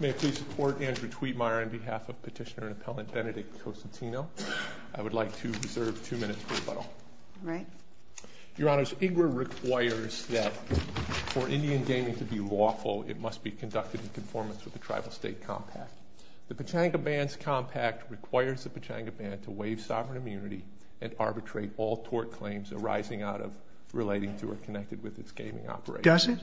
May I please support Andrew Tweetmeyer on behalf of Petitioner-Appellant Benedict Consentino? I would like to reserve two minutes for rebuttal. Your Honor, IGRA requires that for Indian gaming to be lawful, it must be conducted in conformance with the Tribal-State Compact. The Pechanga Band's Compact requires the Pechanga Band to waive sovereign immunity and arbitrate all tort claims arising out of, relating to, or connected with its gaming operations. Does it?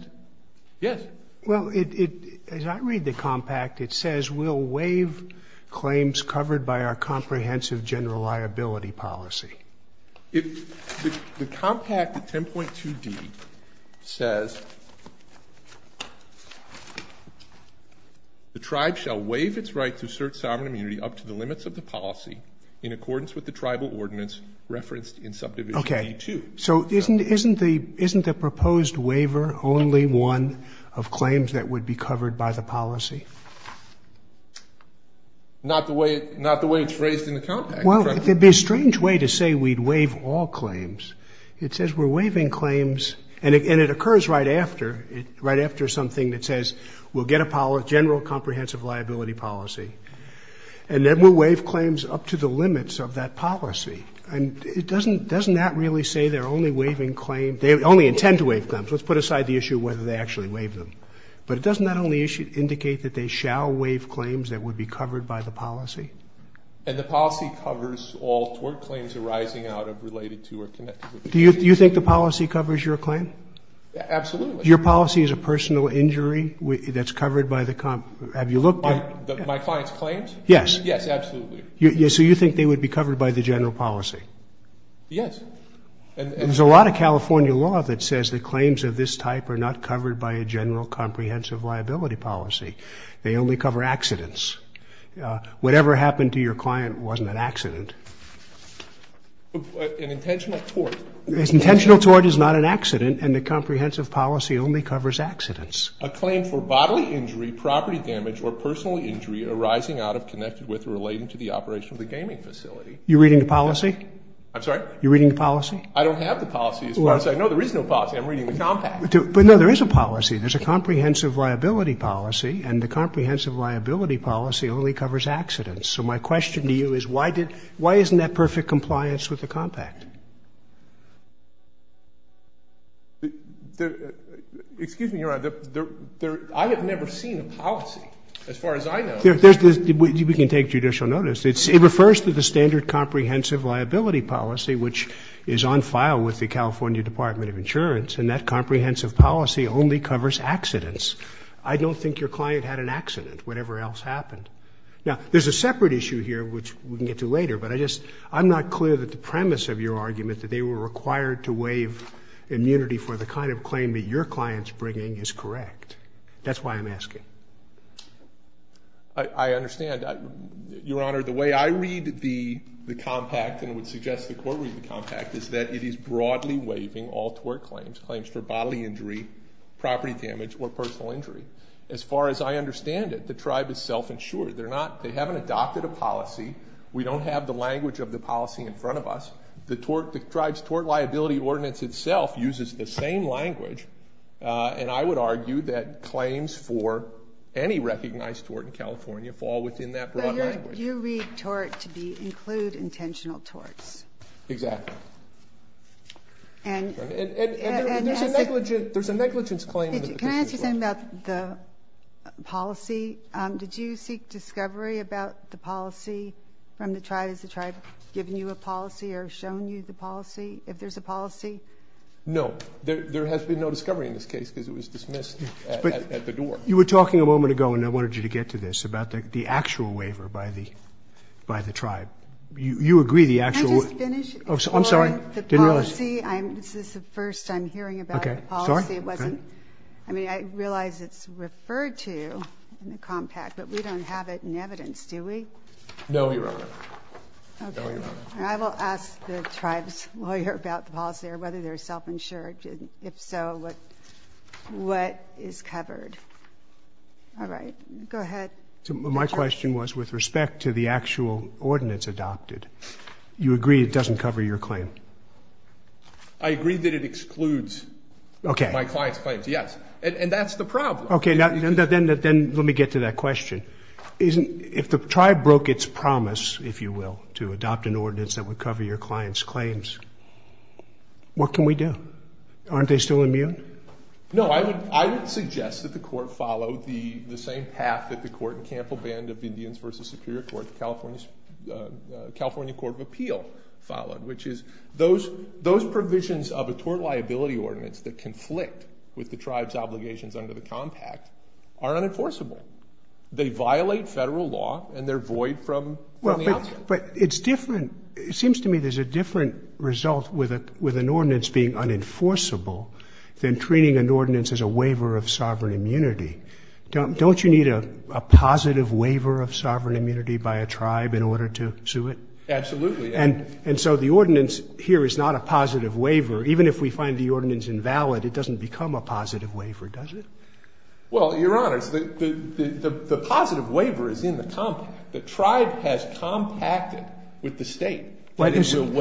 Yes. Well, as I read the Compact, it says, We'll waive claims covered by our comprehensive general liability policy. The Compact, 10.2d, says, The Tribe shall waive its right to assert sovereign immunity up to the limits of the policy in accordance with the Tribal Ordinance referenced in Subdivision D-2. So isn't the proposed waiver only one of claims that would be covered by the policy? Not the way it's phrased in the Compact. Well, it would be a strange way to say we'd waive all claims. It says we're waiving claims, and it occurs right after, right after something that says, We'll get a general comprehensive liability policy. And then we'll waive claims up to the limits of that policy. And doesn't that really say they're only waiving claims? They only intend to waive claims. Let's put aside the issue of whether they actually waive them. But doesn't that only indicate that they shall waive claims that would be covered by the policy? And the policy covers all tort claims arising out of, related to, or connected with it. Do you think the policy covers your claim? Absolutely. Your policy is a personal injury that's covered by the Compact. Have you looked at it? My client's claims? Yes. Yes, absolutely. So you think they would be covered by the general policy? Yes. There's a lot of California law that says that claims of this type are not covered by a general comprehensive liability policy. They only cover accidents. Whatever happened to your client wasn't an accident. An intentional tort. An intentional tort is not an accident, and the comprehensive policy only covers accidents. A claim for bodily injury, property damage, or personal injury arising out of, connected with, or related to the operation of the gaming facility. You're reading the policy? I'm sorry? You're reading the policy? I don't have the policy. No, there is no policy. I'm reading the Compact. No, there is a policy. There's a comprehensive liability policy, and the comprehensive liability policy only covers accidents. So my question to you is why isn't that perfect compliance with the Compact? Excuse me, Your Honor. I have never seen a policy, as far as I know. We can take judicial notice. It refers to the standard comprehensive liability policy, which is on file with the California Department of Insurance, and that comprehensive policy only covers accidents. I don't think your client had an accident, whatever else happened. Now, there's a separate issue here, which we can get to later, but I just, I'm not clear that the premise of your argument that they were required to waive immunity for the kind of claim that your client's bringing is correct. That's why I'm asking. I understand. Your Honor, the way I read the Compact, and would suggest the Court read the Compact, is that it is broadly waiving all tort claims, claims for bodily injury, property damage, or personal injury. As far as I understand it, the tribe is self-insured. They're not, they haven't adopted a policy. We don't have the language of the policy in front of us. The tribe's tort liability ordinance itself uses the same language, and I would argue that claims for any recognized tort in California fall within that broad language. But you read tort to include intentional torts. Exactly. And there's a negligence claim. Can I ask you something about the policy? Did you seek discovery about the policy from the tribe? Has the tribe given you a policy or shown you the policy, if there's a policy? No. There has been no discovery in this case because it was dismissed at the door. But you were talking a moment ago, and I wanted you to get to this, about the actual waiver by the tribe. You agree the actual waiver. Can I just finish? I'm sorry. The policy, this is the first I'm hearing about the policy. Okay. Sorry. I realize it's referred to in the compact, but we don't have it in evidence, do we? No, Your Honor. I will ask the tribe's lawyer about the policy or whether they're self-insured. If so, what is covered? All right. Go ahead. My question was with respect to the actual ordinance adopted. You agree it doesn't cover your claim? I agree that it excludes my client's claims, yes. And that's the problem. Okay. Then let me get to that question. If the tribe broke its promise, if you will, to adopt an ordinance that would cover your client's claims, what can we do? Aren't they still immune? No. I would suggest that the court follow the same path that the court in Campbell Band of Indians v. Superior Court, California Court of Appeal followed, which is those provisions of a tort liability ordinance that conflict with the tribe's obligations under the compact are unenforceable. They violate federal law and they're void from the outset. But it's different. It seems to me there's a different result with an ordinance being unenforceable than treating an ordinance as a waiver of sovereign immunity. Don't you need a positive waiver of sovereign immunity by a tribe in order to sue it? Absolutely. And so the ordinance here is not a positive waiver. Even if we find the ordinance invalid, it doesn't become a positive waiver, does it? Well, Your Honor, the positive waiver is in the compact. The tribe has compacted with the State to waive sovereign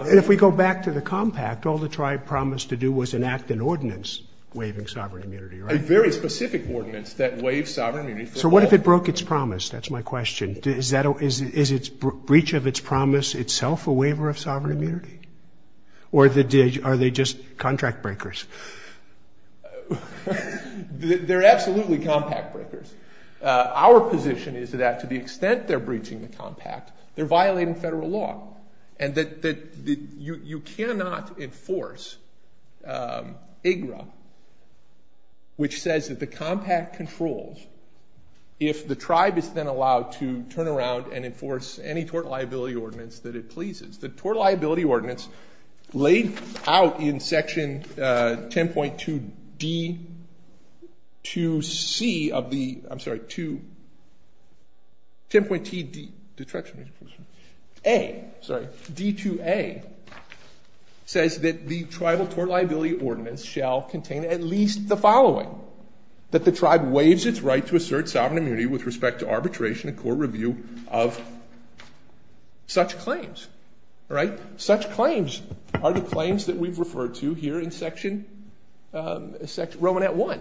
immunity. And if we go back to the compact, all the tribe promised to do was enact an ordinance waiving sovereign immunity, right? There are very specific ordinance that waive sovereign immunity. So what if it broke its promise? That's my question. Is its breach of its promise itself a waiver of sovereign immunity? Or are they just contract breakers? They're absolutely compact breakers. Our position is that to the extent they're breaching the compact, they're violating federal law, and that you cannot enforce IGRA, which says that the compact controls if the tribe is then allowed to turn around and enforce any tort liability ordinance that it pleases. The tort liability ordinance laid out in section 10.2D2C of the ‑‑ I'm sorry, 10.2D2A, sorry, D2A, says that the tribal tort liability ordinance shall contain at least the following, that the tribe waives its right to assert sovereign immunity with respect to arbitration and court review of such claims. All right? Such claims are the claims that we've referred to here in section ‑‑ Romanet 1.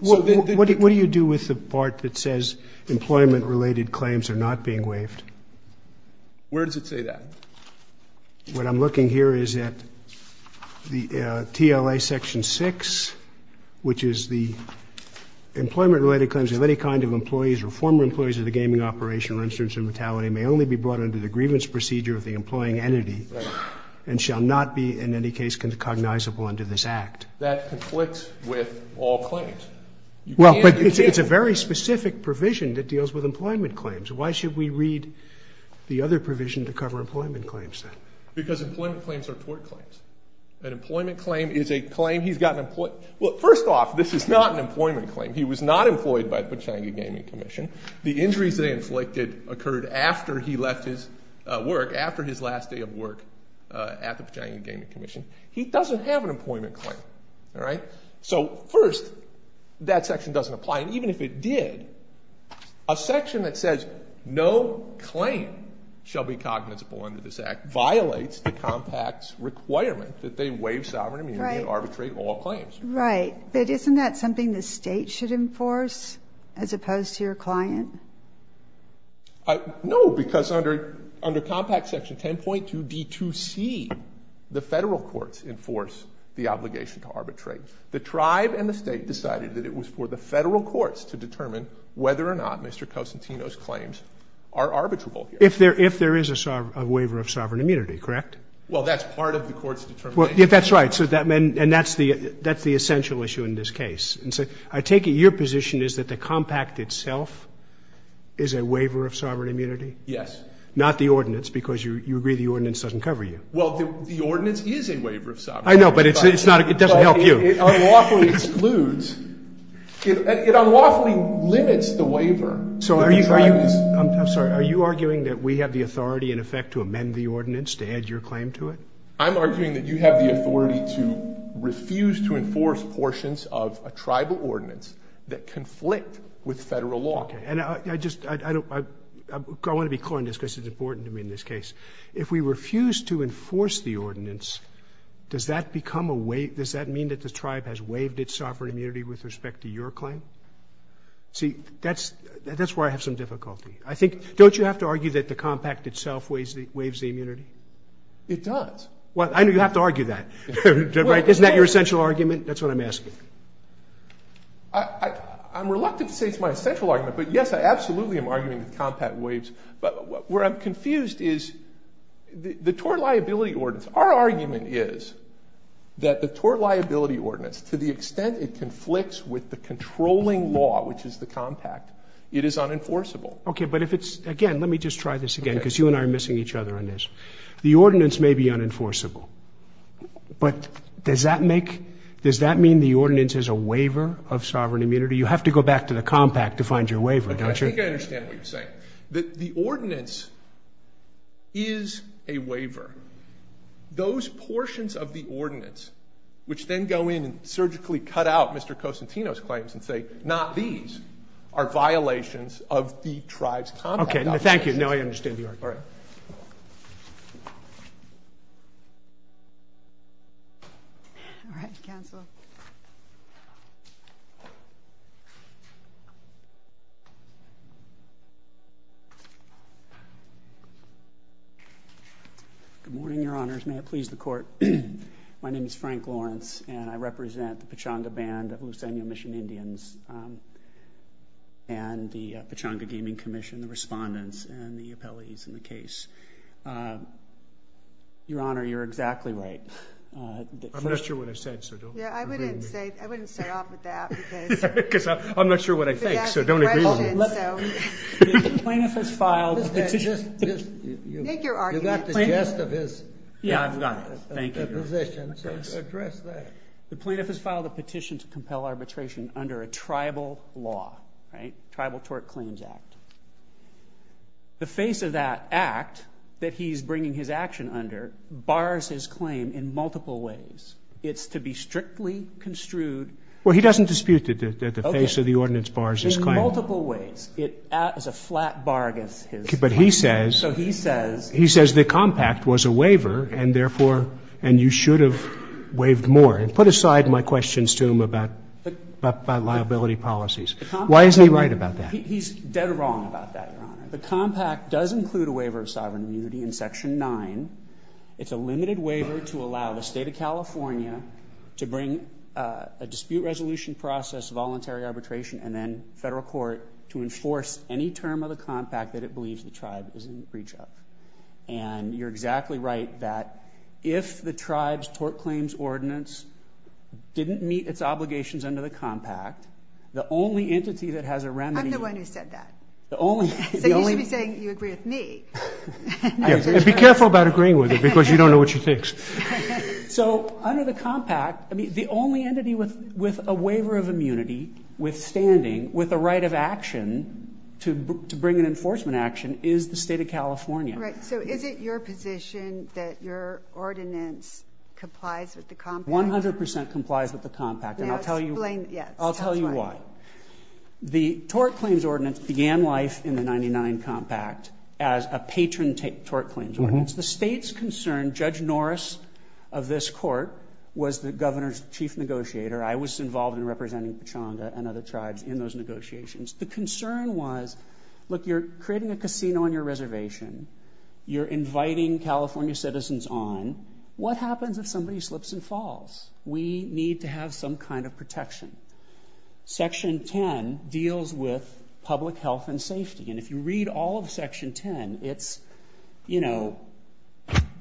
What do you do with the part that says employment-related claims are not being waived? Where does it say that? What I'm looking here is at the TLA section 6, which is the employment-related claims of any kind of employees or former employees of the gaming operation or instance of mortality may only be brought under the grievance procedure of the employing entity and shall not be in any case cognizable under this act. That conflicts with all claims. Well, but it's a very specific provision that deals with employment claims. Why should we read the other provision to cover employment claims, then? Because employment claims are tort claims. An employment claim is a claim he's got an ‑‑ well, first off, this is not an employment claim. He was not employed by the Pechanga Gaming Commission. The injuries they inflicted occurred after he left his work, after his last day of work at the Pechanga Gaming Commission. He doesn't have an employment claim. All right? So, first, that section doesn't apply. And even if it did, a section that says no claim shall be cognizable under this act violates the compact's requirement that they waive sovereign immunity and arbitrate all claims. Right. But isn't that something the state should enforce as opposed to your client? No, because under compact section 10.2D2C, the federal courts enforce the obligation to arbitrate. The tribe and the state decided that it was for the federal courts to determine whether or not Mr. Cosentino's claims are arbitrable. If there is a waiver of sovereign immunity, correct? Well, that's part of the court's determination. That's right. And that's the essential issue in this case. I take it your position is that the compact itself is a waiver of sovereign immunity? Yes. Not the ordinance, because you agree the ordinance doesn't cover you. Well, the ordinance is a waiver of sovereign immunity. I know, but it doesn't help you. It unlawfully excludes. It unlawfully limits the waiver. I'm sorry. Are you arguing that we have the authority, in effect, to amend the ordinance to add your claim to it? I'm arguing that you have the authority to refuse to enforce portions of a tribal ordinance that conflict with Federal law. Okay. And I want to be clear on this, because it's important to me in this case. If we refuse to enforce the ordinance, does that mean that the tribe has waived its sovereign immunity with respect to your claim? See, that's where I have some difficulty. Don't you have to argue that the compact itself waives the immunity? It does. Well, I know you have to argue that. Isn't that your essential argument? That's what I'm asking. I'm reluctant to say it's my essential argument. But, yes, I absolutely am arguing the compact waives. But where I'm confused is the tort liability ordinance. Our argument is that the tort liability ordinance, to the extent it conflicts with the controlling law, which is the compact, it is unenforceable. Okay. But if it's, again, let me just try this again, because you and I are missing each other on this. The ordinance may be unenforceable. But does that make, does that mean the ordinance is a waiver of sovereign immunity? You have to go back to the compact to find your waiver, don't you? I think I understand what you're saying, that the ordinance is a waiver. Those portions of the ordinance, which then go in and surgically cut out Mr. Cosentino's claims and say, not these, are violations of the tribe's compact. Okay. No, thank you. No, I understand the argument. All right. Counsel. Good morning, Your Honors. May it please the court. My name is Frank Lawrence, and I represent the Pechanga Band of Los Angeles Mission Indians and the Pechanga Gaming Commission, the Pechanga Gaming Commission. Your Honor, you're exactly right. I'm not sure what I said, so don't agree with me. Yeah, I wouldn't say, I wouldn't start off with that. Because I'm not sure what I think, so don't agree with me. The plaintiff has filed a petition. Take your argument. You got the gist of his position, so address that. The plaintiff has filed a petition to compel arbitration under a tribal law, right, Tribal Tort Claims Act. The face of that act that he's bringing his action under bars his claim in multiple ways. It's to be strictly construed. Well, he doesn't dispute that the face of the ordinance bars his claim. In multiple ways. It is a flat bar against his claim. But he says. So he says. He says the compact was a waiver, and therefore, and you should have waived more. And put aside my questions to him about liability policies. Why isn't he right about that? He's dead wrong about that, Your Honor. The compact does include a waiver of sovereign immunity in Section 9. It's a limited waiver to allow the state of California to bring a dispute resolution process, voluntary arbitration, and then federal court to enforce any term of the compact that it believes the tribe is in the breach of. And you're exactly right that if the tribe's tort claims ordinance didn't meet its obligations under the compact, the only entity that has a remedy I'm the one who said that. So you should be saying you agree with me. Be careful about agreeing with her, because you don't know what she thinks. So under the compact, the only entity with a waiver of immunity, withstanding, with a right of action to bring an enforcement action, is the state of California. Right. So is it your position that your ordinance complies with the compact? 100% complies with the compact. And I'll tell you why. The tort claims ordinance began life in the 99 compact as a patron tort claims ordinance. The state's concern, Judge Norris of this court was the governor's chief negotiator. I was involved in representing Pechanda and other tribes in those negotiations. The concern was, look, you're creating a casino on your reservation. You're inviting California citizens on. What happens if somebody slips and falls? We need to have some kind of protection. Section 10 deals with public health and safety. And if you read all of Section 10, it's, you know,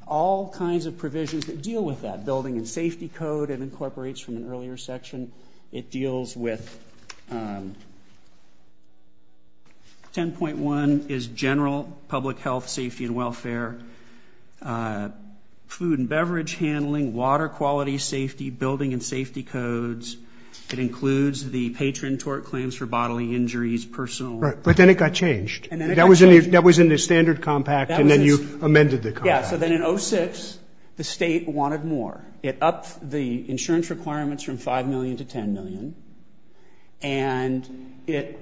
all kinds of provisions that deal with that. Building and safety code, it incorporates from an earlier section. It deals with 10.1 is general public health, safety, and welfare. Food and beverage handling, water quality, safety, building and safety codes. It includes the patron tort claims for bodily injuries, personal. Right. But then it got changed. That was in the standard compact, and then you amended the compact. Yeah. So then in 06, the state wanted more. It upped the insurance requirements from $5 million to $10 million. And it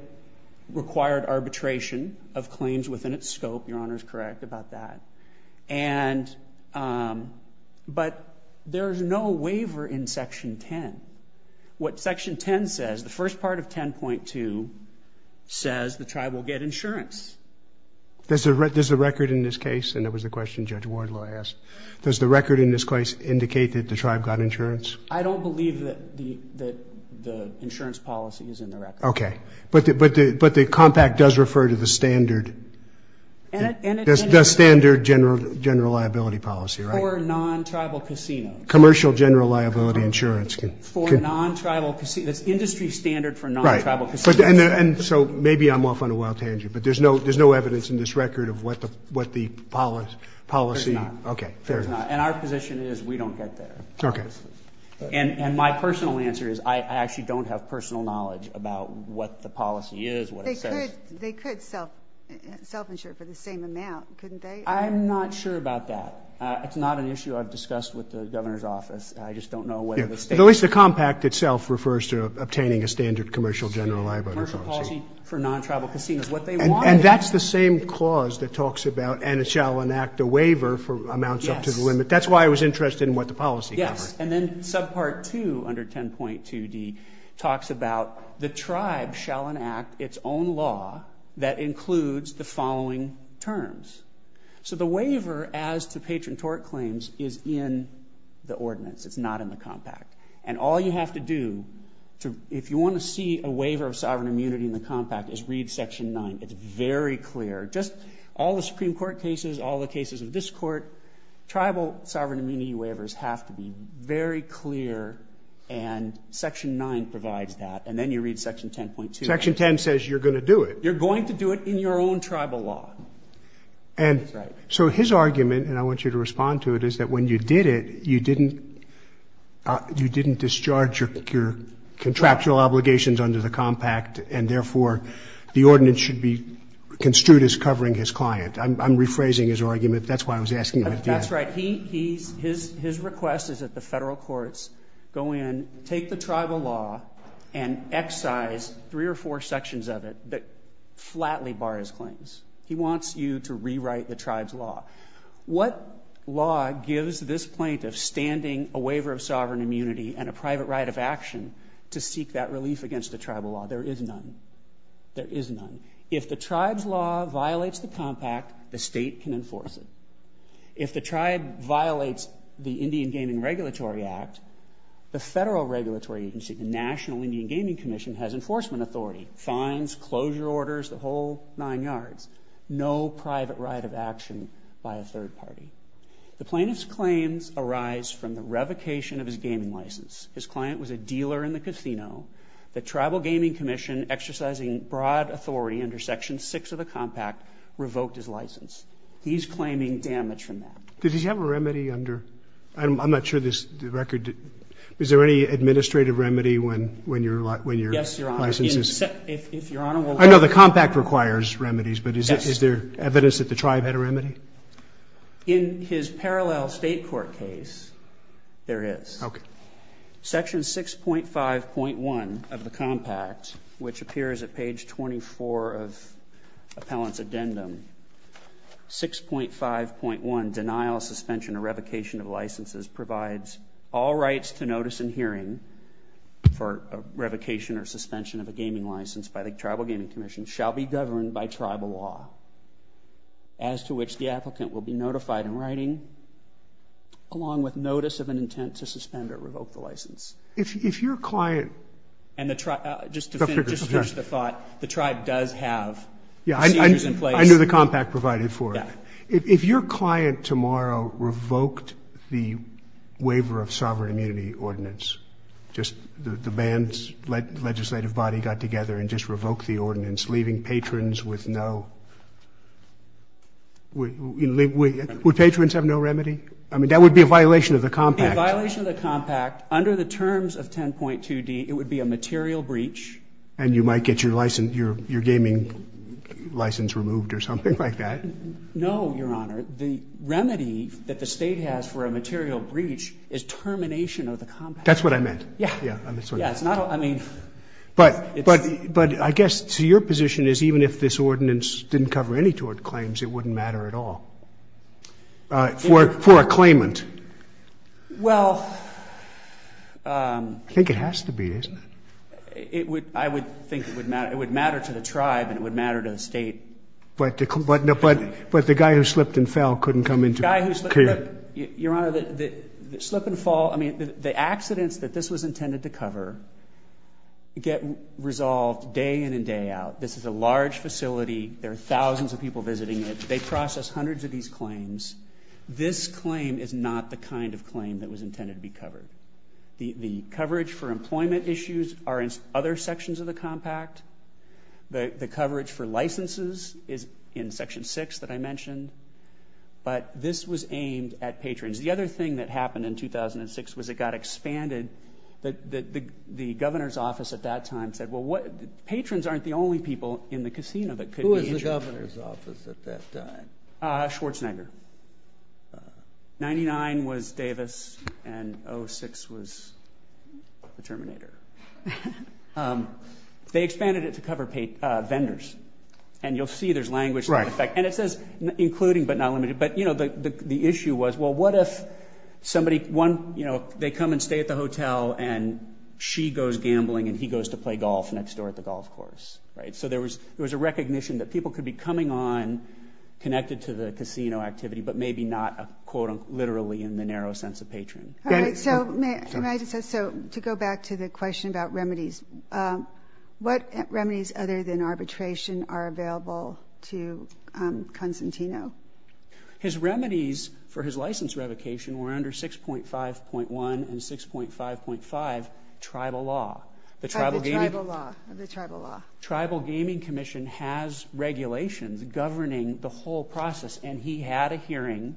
required arbitration of claims within its scope. Your Honor is correct about that. But there's no waiver in Section 10. What Section 10 says, the first part of 10.2 says the tribe will get insurance. Does the record in this case, and that was the question Judge Wardlaw asked, does the record in this case indicate that the tribe got insurance? I don't believe that the insurance policy is in the record. Okay. But the compact does refer to the standard. The standard general liability policy, right? For non-tribal casinos. Commercial general liability insurance. For non-tribal casinos. Industry standard for non-tribal casinos. And so maybe I'm off on a wild tangent, but there's no evidence in this record of what the policy. There's not. Okay. There's not. And our position is we don't get there. Okay. And my personal answer is I actually don't have personal knowledge about what the policy is, what it says. They could self-insure for the same amount, couldn't they? I'm not sure about that. It's not an issue I've discussed with the governor's office. I just don't know whether the state. At least the compact itself refers to obtaining a standard commercial general liability policy. Commercial policy for non-tribal casinos. And that's the same clause that talks about and it shall enact a waiver for amounts up to the limit. That's why I was interested in what the policy covers. Yes. And then subpart two under 10.2D talks about the tribe shall enact its own law that includes the following terms. So the waiver as to patron tort claims is in the ordinance. It's not in the compact. And all you have to do if you want to see a waiver of sovereign immunity in the compact is read section nine. It's very clear. Just all the Supreme Court cases, all the cases of this court, tribal sovereign immunity waivers have to be very clear. And section nine provides that. And then you read section 10.2. Section 10 says you're going to do it. You're going to do it in your own tribal law. And so his argument, and I want you to respond to it, is that when you did it, you didn't discharge your contractual obligations under the compact and, therefore, the ordinance should be construed as covering his client. I'm rephrasing his argument. That's why I was asking him. That's right. His request is that the federal courts go in, take the tribal law, and excise three or four sections of it that flatly bar his claims. He wants you to rewrite the tribe's law. What law gives this plaintiff standing a waiver of sovereign immunity and a private right of action to seek that relief against the tribal law? There is none. There is none. If the tribe's law violates the compact, the state can enforce it. If the tribe violates the Indian Gaming Regulatory Act, the federal regulatory agency, the National Indian Gaming Commission, has enforcement authority, fines, closure orders, the whole nine yards. No private right of action by a third party. The plaintiff's claims arise from the revocation of his gaming license. His client was a dealer in the casino. The Tribal Gaming Commission, exercising broad authority under Section 6 of the compact, revoked his license. He's claiming damage from that. Does he have a remedy under? I'm not sure this record. Is there any administrative remedy when your license is? Yes, Your Honor. If Your Honor will let me. I know the compact requires remedies, but is there evidence that the tribe had a remedy? In his parallel state court case, there is. Okay. Section 6.5.1 of the compact, which appears at page 24 of appellant's addendum, 6.5.1, denial, suspension, or revocation of licenses provides all rights to notice and hearing for revocation or suspension of a gaming license by the Tribal Gaming Commission shall be governed by tribal law, as to which the applicant will be If your client... Just to finish the thought, the tribe does have procedures in place. I knew the compact provided for it. If your client tomorrow revoked the waiver of sovereign immunity ordinance, just the band's legislative body got together and just revoked the ordinance, leaving patrons with no... Would patrons have no remedy? I mean, that would be a violation of the compact. It would be a violation of the compact under the terms of 10.2D. It would be a material breach. And you might get your gaming license removed or something like that. No, Your Honor. The remedy that the state has for a material breach is termination of the compact. That's what I meant. Yeah. Yeah. I mean... But I guess to your position is even if this ordinance didn't cover any tort claims, it wouldn't matter at all. For a claimant. Well... I think it has to be, isn't it? I would think it would matter. It would matter to the tribe and it would matter to the state. But the guy who slipped and fell couldn't come into care. Your Honor, the slip and fall, I mean, the accidents that this was intended to cover get resolved day in and day out. This is a large facility. There are thousands of people visiting it. They process hundreds of these claims. This claim is not the kind of claim that was intended to be covered. The coverage for employment issues are in other sections of the compact. The coverage for licenses is in Section 6 that I mentioned. But this was aimed at patrons. The other thing that happened in 2006 was it got expanded. The governor's office at that time said, well, patrons aren't the only people in the casino that could be injured. What was the governor's office at that time? Schwarzenegger. 99 was Davis and 06 was the Terminator. They expanded it to cover vendors. And you'll see there's language there. And it says including but not limited. But, you know, the issue was, well, what if somebody, one, you know, they come and stay at the hotel and she goes gambling and he goes to play golf next door at the golf course. Right? So there was a recognition that people could be coming on connected to the casino activity but maybe not, quote-unquote, literally in the narrow sense of patron. So to go back to the question about remedies, what remedies other than arbitration are available to Constantino? His remedies for his license revocation were under 6.5.1 and 6.5.5 tribal law. The tribal gaming commission has regulations governing the whole process. And he had a hearing.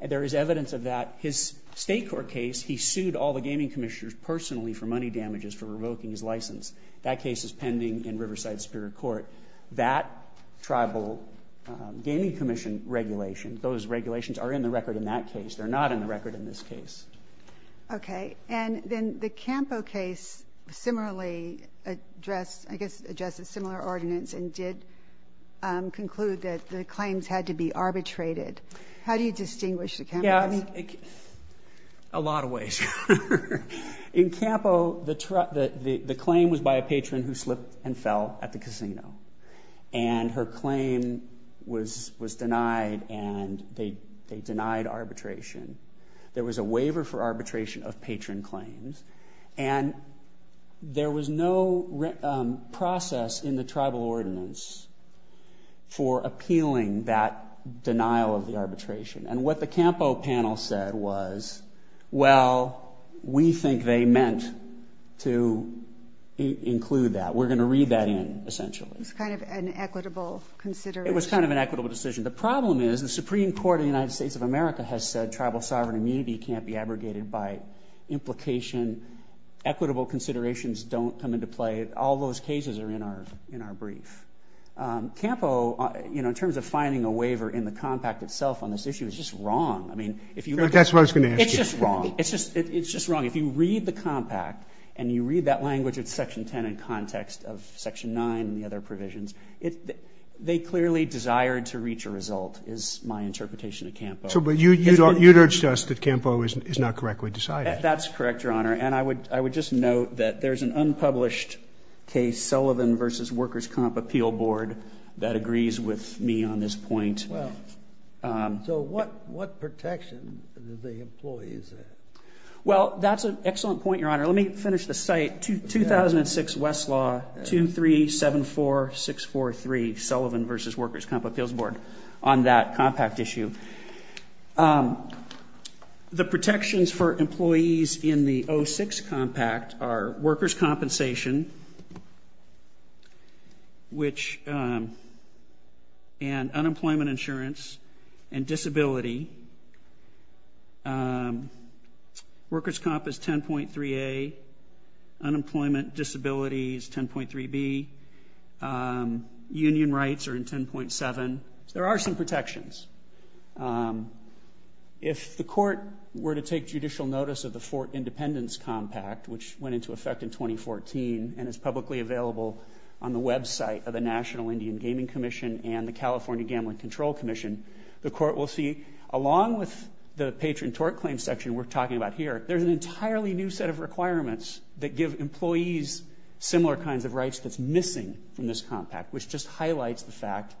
There is evidence of that. His state court case, he sued all the gaming commissioners personally for money damages for revoking his license. That case is pending in Riverside Superior Court. That tribal gaming commission regulation, those regulations are in the record in that case. They're not in the record in this case. Okay. And then the Campo case similarly addressed, I guess, addressed a similar ordinance and did conclude that the claims had to be arbitrated. How do you distinguish the Campo case? A lot of ways. In Campo, the claim was by a patron who slipped and fell at the casino. And her claim was denied and they denied arbitration. There was a waiver for arbitration of patron claims. And there was no process in the tribal ordinance for appealing that denial of the arbitration. And what the Campo panel said was, well, we think they meant to include that. We're going to read that in, essentially. It was kind of an equitable consideration. It was kind of an equitable decision. The problem is the Supreme Court of the United States of America has said tribal sovereign immunity can't be abrogated by implication. Equitable considerations don't come into play. All those cases are in our brief. Campo, in terms of finding a waiver in the compact itself on this issue, is just wrong. That's what I was going to ask you. It's just wrong. It's just wrong. If you read the compact and you read that language at Section 10 in context of Section 9 and the other provisions, they clearly desire to reach a result, is my interpretation of Campo. You'd urge to us that Campo is not correctly decided. That's correct, Your Honor. And I would just note that there's an unpublished case, Sullivan v. Workers' Comp Appeal Board, that agrees with me on this point. So what protection do they employ? Well, that's an excellent point, Your Honor. Let me finish the site. 2006 Westlaw 2374643, Sullivan v. Workers' Comp Appeals Board, on that compact issue. The protections for employees in the 06 compact are workers' compensation, and unemployment insurance, and disability. Workers' Comp is 10.3A. Unemployment, disability is 10.3B. Union rights are in 10.7. There are some protections. If the court were to take judicial notice of the Fort Independence compact, which went into effect in 2014 and is publicly available on the website of the National Indian Gaming Commission and the California Gambling Control Commission, the court will see, along with the patron tort claim section we're talking about here, there's an entirely new set of requirements that give employees similar kinds of rights that's missing from this compact, which just highlights the fact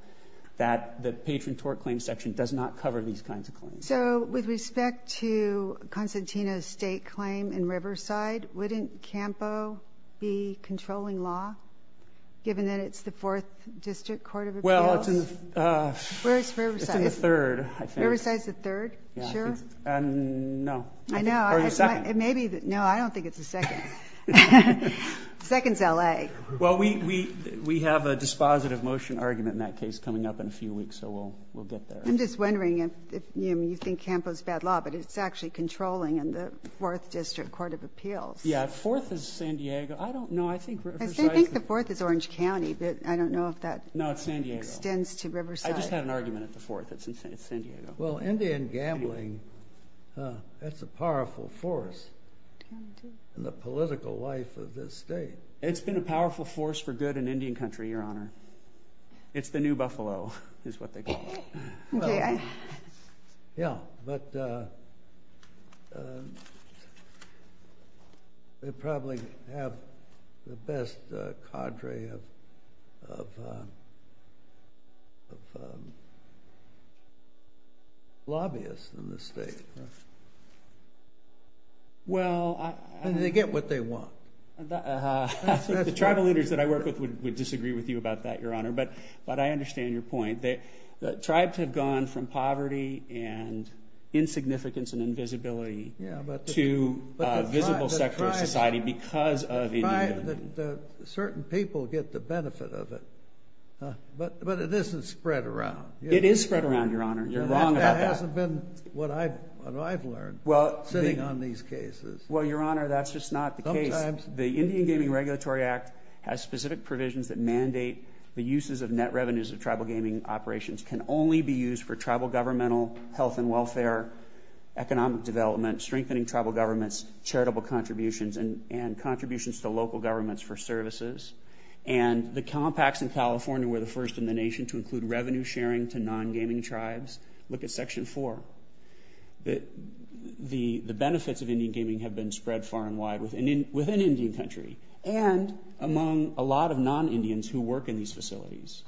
that the patron tort claim section does not cover these kinds of claims. So with respect to Constantino's state claim in Riverside, wouldn't CAMPO be controlling law, given that it's the Fourth District Court of Appeals? Well, it's in the third, I think. Riverside's the third, sure? No. I know. Or the second. No, I don't think it's the second. The second's L.A. Well, we have a dispositive motion argument in that case coming up in a few weeks, so we'll get there. I'm just wondering if you think CAMPO's bad law, but it's actually controlling in the Fourth District Court of Appeals. Yeah, Fourth is San Diego. I don't know. I think Riverside's the fourth. I think the fourth is Orange County, but I don't know if that extends to Riverside. No, it's San Diego. I just had an argument at the fourth. It's San Diego. Well, Indian gambling, that's a powerful force in the political life of this state. It's been a powerful force for good in Indian country, Your Honor. It's the new Buffalo, is what they call it. Okay. Yeah, but they probably have the best cadre of lobbyists in the state. Well, they get what they want. The tribal leaders that I work with would disagree with you about that, Your Honor, but I understand your point. The tribes have gone from poverty and insignificance and invisibility to a visible sector of society because of Indian gaming. Certain people get the benefit of it, but it isn't spread around. It is spread around, Your Honor. You're wrong about that. That hasn't been what I've learned sitting on these cases. Well, Your Honor, that's just not the case. The Indian Gaming Regulatory Act has specific provisions that mandate the uses of net revenues of tribal gaming operations can only be used for tribal governmental health and welfare, economic development, strengthening tribal governments, charitable contributions, and contributions to local governments for services. And the compacts in California were the first in the nation to include revenue sharing to non-gaming tribes. Look at Section 4. The benefits of Indian gaming have been spread far and wide within Indian country. And among a lot of non-Indians who work in these facilities.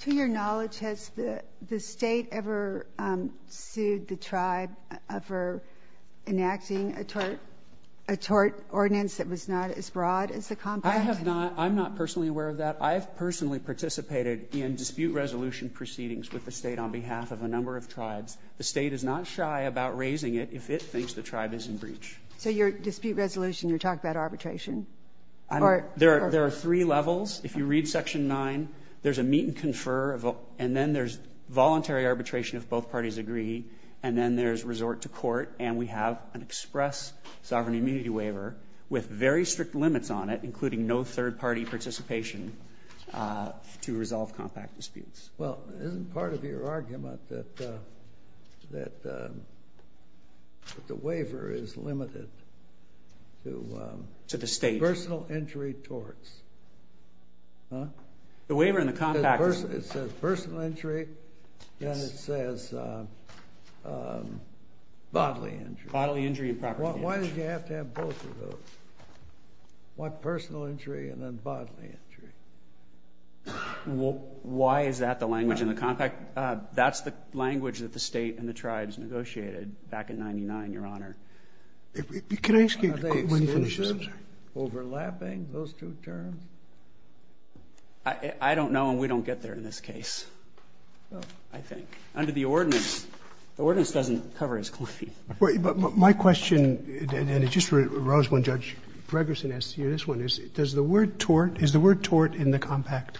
To your knowledge, has the state ever sued the tribe for enacting a tort ordinance that was not as broad as the compact? I'm not personally aware of that. I've personally participated in dispute resolution proceedings with the state on behalf of a number of tribes. The state is not shy about raising it if it thinks the tribe is in breach. So your dispute resolution, you're talking about arbitration? There are three levels. If you read Section 9, there's a meet and confer, and then there's voluntary arbitration if both parties agree, and then there's resort to court, and we have an express sovereign immunity waiver with very strict limits on it, including no third-party participation to resolve compact disputes. Well, isn't part of your argument that the waiver is limited to personal injury torts? Huh? The waiver and the compact. It says personal injury, and it says bodily injury. Bodily injury and property injury. Why did you have to have both of those? What personal injury and then bodily injury? Why is that the language in the compact? That's the language that the state and the tribes negotiated back in 99, Your Honor. Can I ask you when you finish this? Are they overlapping, those two terms? I don't know, and we don't get there in this case, I think. Under the ordinance, the ordinance doesn't cover his claim. My question, and it just arose when Judge Gregerson asked you this one, is the word tort in the compact?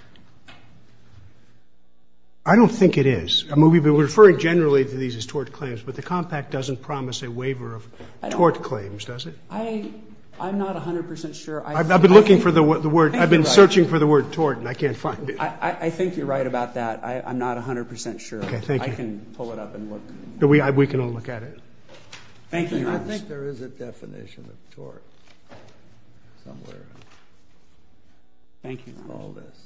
I don't think it is. We're referring generally to these as tort claims, but the compact doesn't promise a waiver of tort claims, does it? I'm not 100 percent sure. I've been looking for the word. I've been searching for the word tort, and I can't find it. I think you're right about that. I'm not 100 percent sure. Okay. Thank you. I can pull it up and look. We can all look at it. Thank you. I think there is a definition of tort somewhere in all this.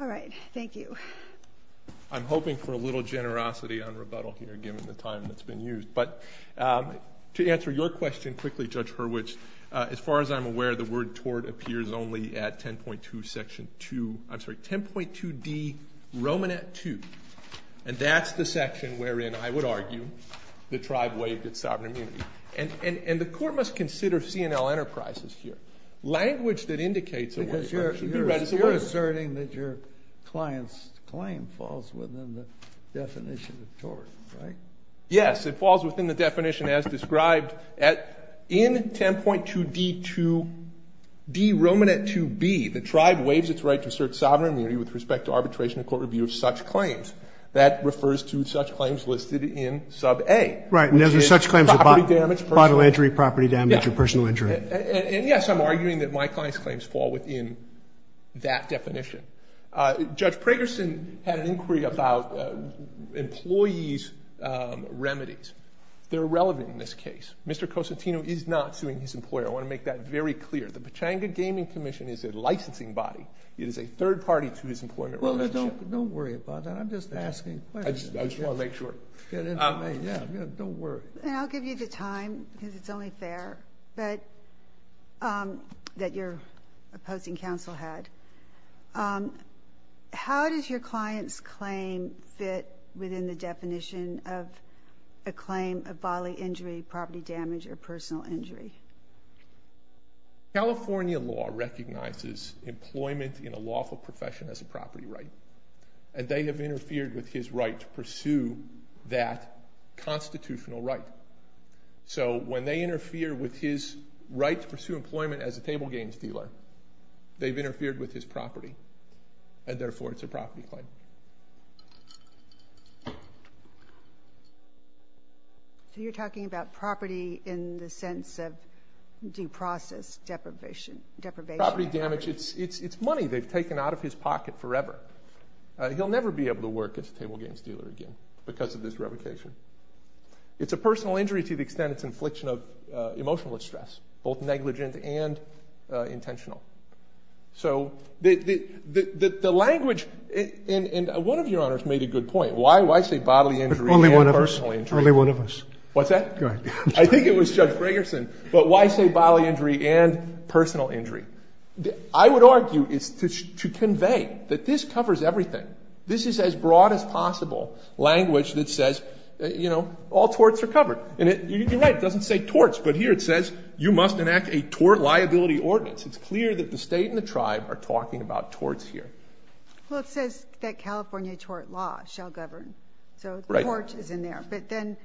All right. Thank you. I'm hoping for a little generosity on rebuttal here, given the time that's been used. But to answer your question quickly, Judge Hurwitz, as far as I'm aware, the word tort appears only at 10.2 section 2. I'm sorry, 10.2d, Romanette 2. And that's the section wherein, I would argue, the tribe waived its sovereign immunity. And the court must consider C&L Enterprises here. Language that indicates a word tort should be read as a word. Because you're asserting that your client's claim falls within the definition of tort, right? Yes. It falls within the definition as described in 10.2d, Romanette 2b, the tribe waives its right to assert sovereign immunity with respect to arbitration and court review of such claims. That refers to such claims listed in sub A. Right. And those are such claims as bodily damage, personal injury. Bodily injury, property damage, or personal injury. And, yes, I'm arguing that my client's claims fall within that definition. Judge Pragerson had an inquiry about employees' remedies. They're irrelevant in this case. Mr. Cosentino is not suing his employer. I want to make that very clear. The Pechanga Gaming Commission is a licensing body. It is a third party to his employment relationship. Don't worry about that. I'm just asking questions. I just want to make sure. Don't worry. And I'll give you the time because it's only fair that your opposing counsel had. How does your client's claim fit within the definition of a claim of bodily injury, property damage, or personal injury? California law recognizes employment in a lawful profession as a property right. And they have interfered with his right to pursue that constitutional right. So when they interfere with his right to pursue employment as a table games dealer, they've interfered with his property. And, therefore, it's a property claim. So you're talking about property in the sense of due process deprivation. Property damage, it's money they've taken out of his pocket forever. He'll never be able to work as a table games dealer again because of this revocation. It's a personal injury to the extent it's infliction of emotional distress, both negligent and intentional. So the language, and one of your honors made a good point. Why say bodily injury and personal injury? Only one of us. What's that? Go ahead. I think it was Judge Fragerson. But why say bodily injury and personal injury? I would argue it's to convey that this covers everything. This is as broad as possible language that says, you know, all torts are covered. And you're right. It doesn't say torts. But here it says you must enact a tort liability ordinance. It's clear that the state and the tribe are talking about torts here. Well, it says that California tort law shall govern. So torts is in there. But then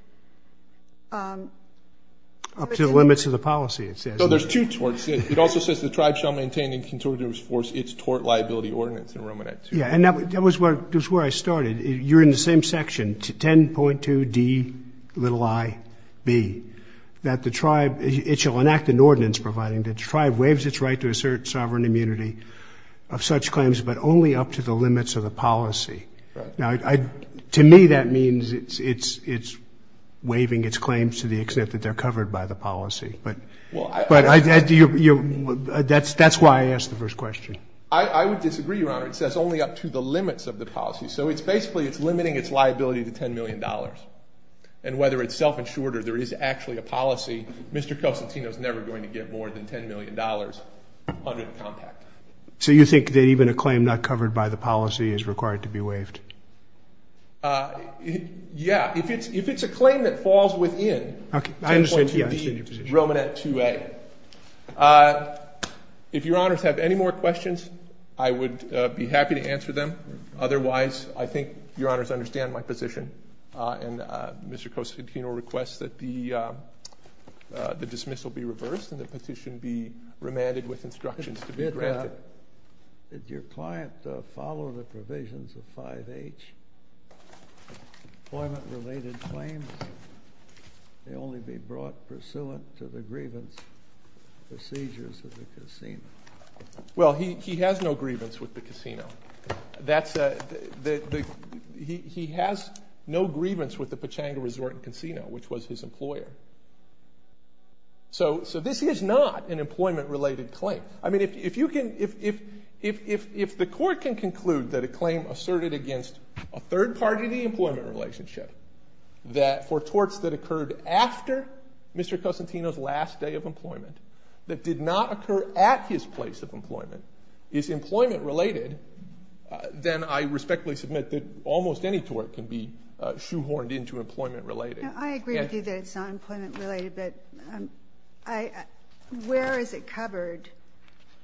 – Up to the limits of the policy, it says. So there's two torts. It also says the tribe shall maintain in contortive force its tort liability ordinance in Romanette 2. Yeah, and that was where I started. You're in the same section, 10.2d, little i, b, that the tribe – it shall enact an ordinance providing that the tribe waives its right to assert sovereign immunity of such claims, but only up to the limits of the policy. Now, to me, that means it's waiving its claims to the extent that they're covered by the policy. But that's why I asked the first question. I would disagree, Your Honor. It says only up to the limits of the policy. So it's basically it's limiting its liability to $10 million. And whether it's self-insured or there is actually a policy, Mr. Cosentino is never going to get more than $10 million under the compact. So you think that even a claim not covered by the policy is required to be waived? Yeah. If it's a claim that falls within 10.2d, Romanette 2a. If Your Honors have any more questions, I would be happy to answer them. Otherwise, I think Your Honors understand my position. And Mr. Cosentino requests that the dismissal be reversed and the petition be remanded with instructions to be granted. Did your client follow the provisions of 5H, employment-related claims? They only be brought pursuant to the grievance procedures of the casino. Well, he has no grievance with the casino. He has no grievance with the Pechanga Resort and Casino, which was his employer. So this is not an employment-related claim. I mean, if the court can conclude that a claim asserted against a third party to the employment relationship for torts that occurred after Mr. Cosentino's last day of employment that did not occur at his place of employment is employment-related, then I respectfully submit that almost any tort can be shoehorned into employment-related. I agree with you that it's not employment-related. But where is it covered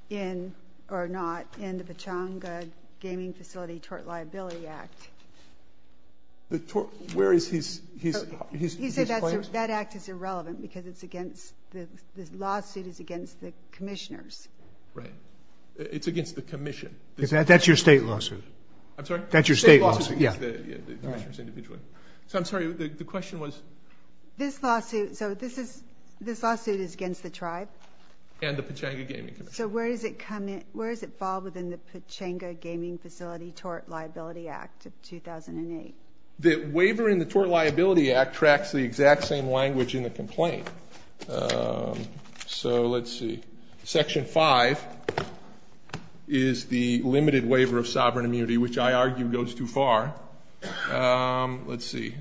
in or not in the Pechanga Gaming Facility Tort Liability Act? Where is his claim? He said that act is irrelevant because the lawsuit is against the commissioners. Right. It's against the commission. That's your state lawsuit. I'm sorry? That's your state lawsuit. The state lawsuit is against the commissioners individually. So I'm sorry, the question was? This lawsuit is against the tribe. And the Pechanga Gaming Commission. So where does it fall within the Pechanga Gaming Facility Tort Liability Act of 2008? The waiver in the Tort Liability Act tracks the exact same language in the complaint. So let's see. Section 5 is the limited waiver of sovereign immunity, which I argue goes too far. Let's see.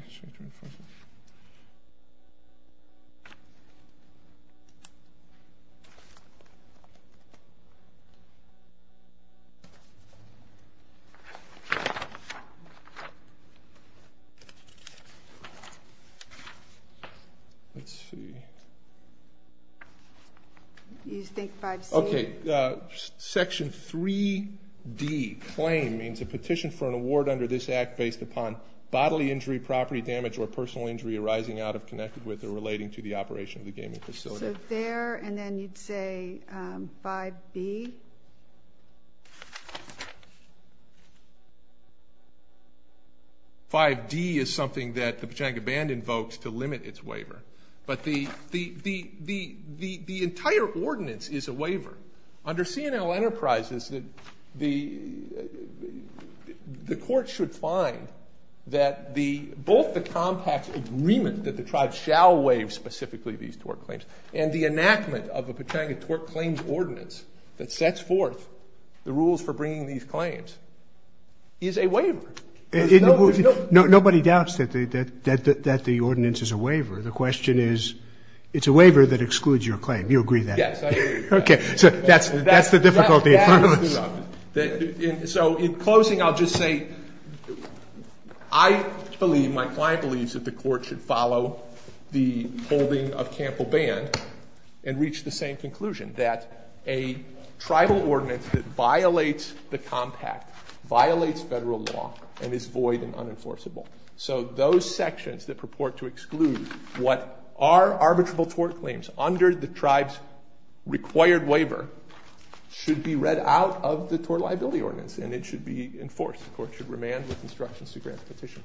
Let's see. You think 5C? Okay. Section 3D. Claim means a petition for an award under this act based upon bodily injury, property damage, or personal injury arising out of, connected with, or relating to the operation of the gaming facility. So there and then you'd say 5B? 5D is something that the Pechanga Band invokes to limit its waiver. But the entire ordinance is a waiver. Under C&L Enterprises, the court should find that both the compact agreement that the tribe shall waive specifically these tort claims and the enactment of a Pechanga Tort Claims Ordinance that sets forth the rules for bringing these claims is a waiver. Nobody doubts that the ordinance is a waiver. The question is it's a waiver that excludes your claim. You agree with that? Yes, I agree with that. Okay. So that's the difficulty. So in closing, I'll just say I believe, my client believes, that the court should follow the holding of Campbell Band and reach the same conclusion that a tribal ordinance that violates the compact violates federal law and is void and unenforceable. So those sections that purport to exclude what are arbitrable tort claims under the tribe's required waiver should be read out of the Tort Liability Ordinance and it should be enforced. The court should remand with instructions to grant the petition.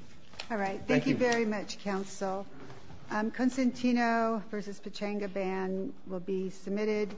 All right. Thank you very much, counsel. Consentino v. Pechanga Band will be submitted.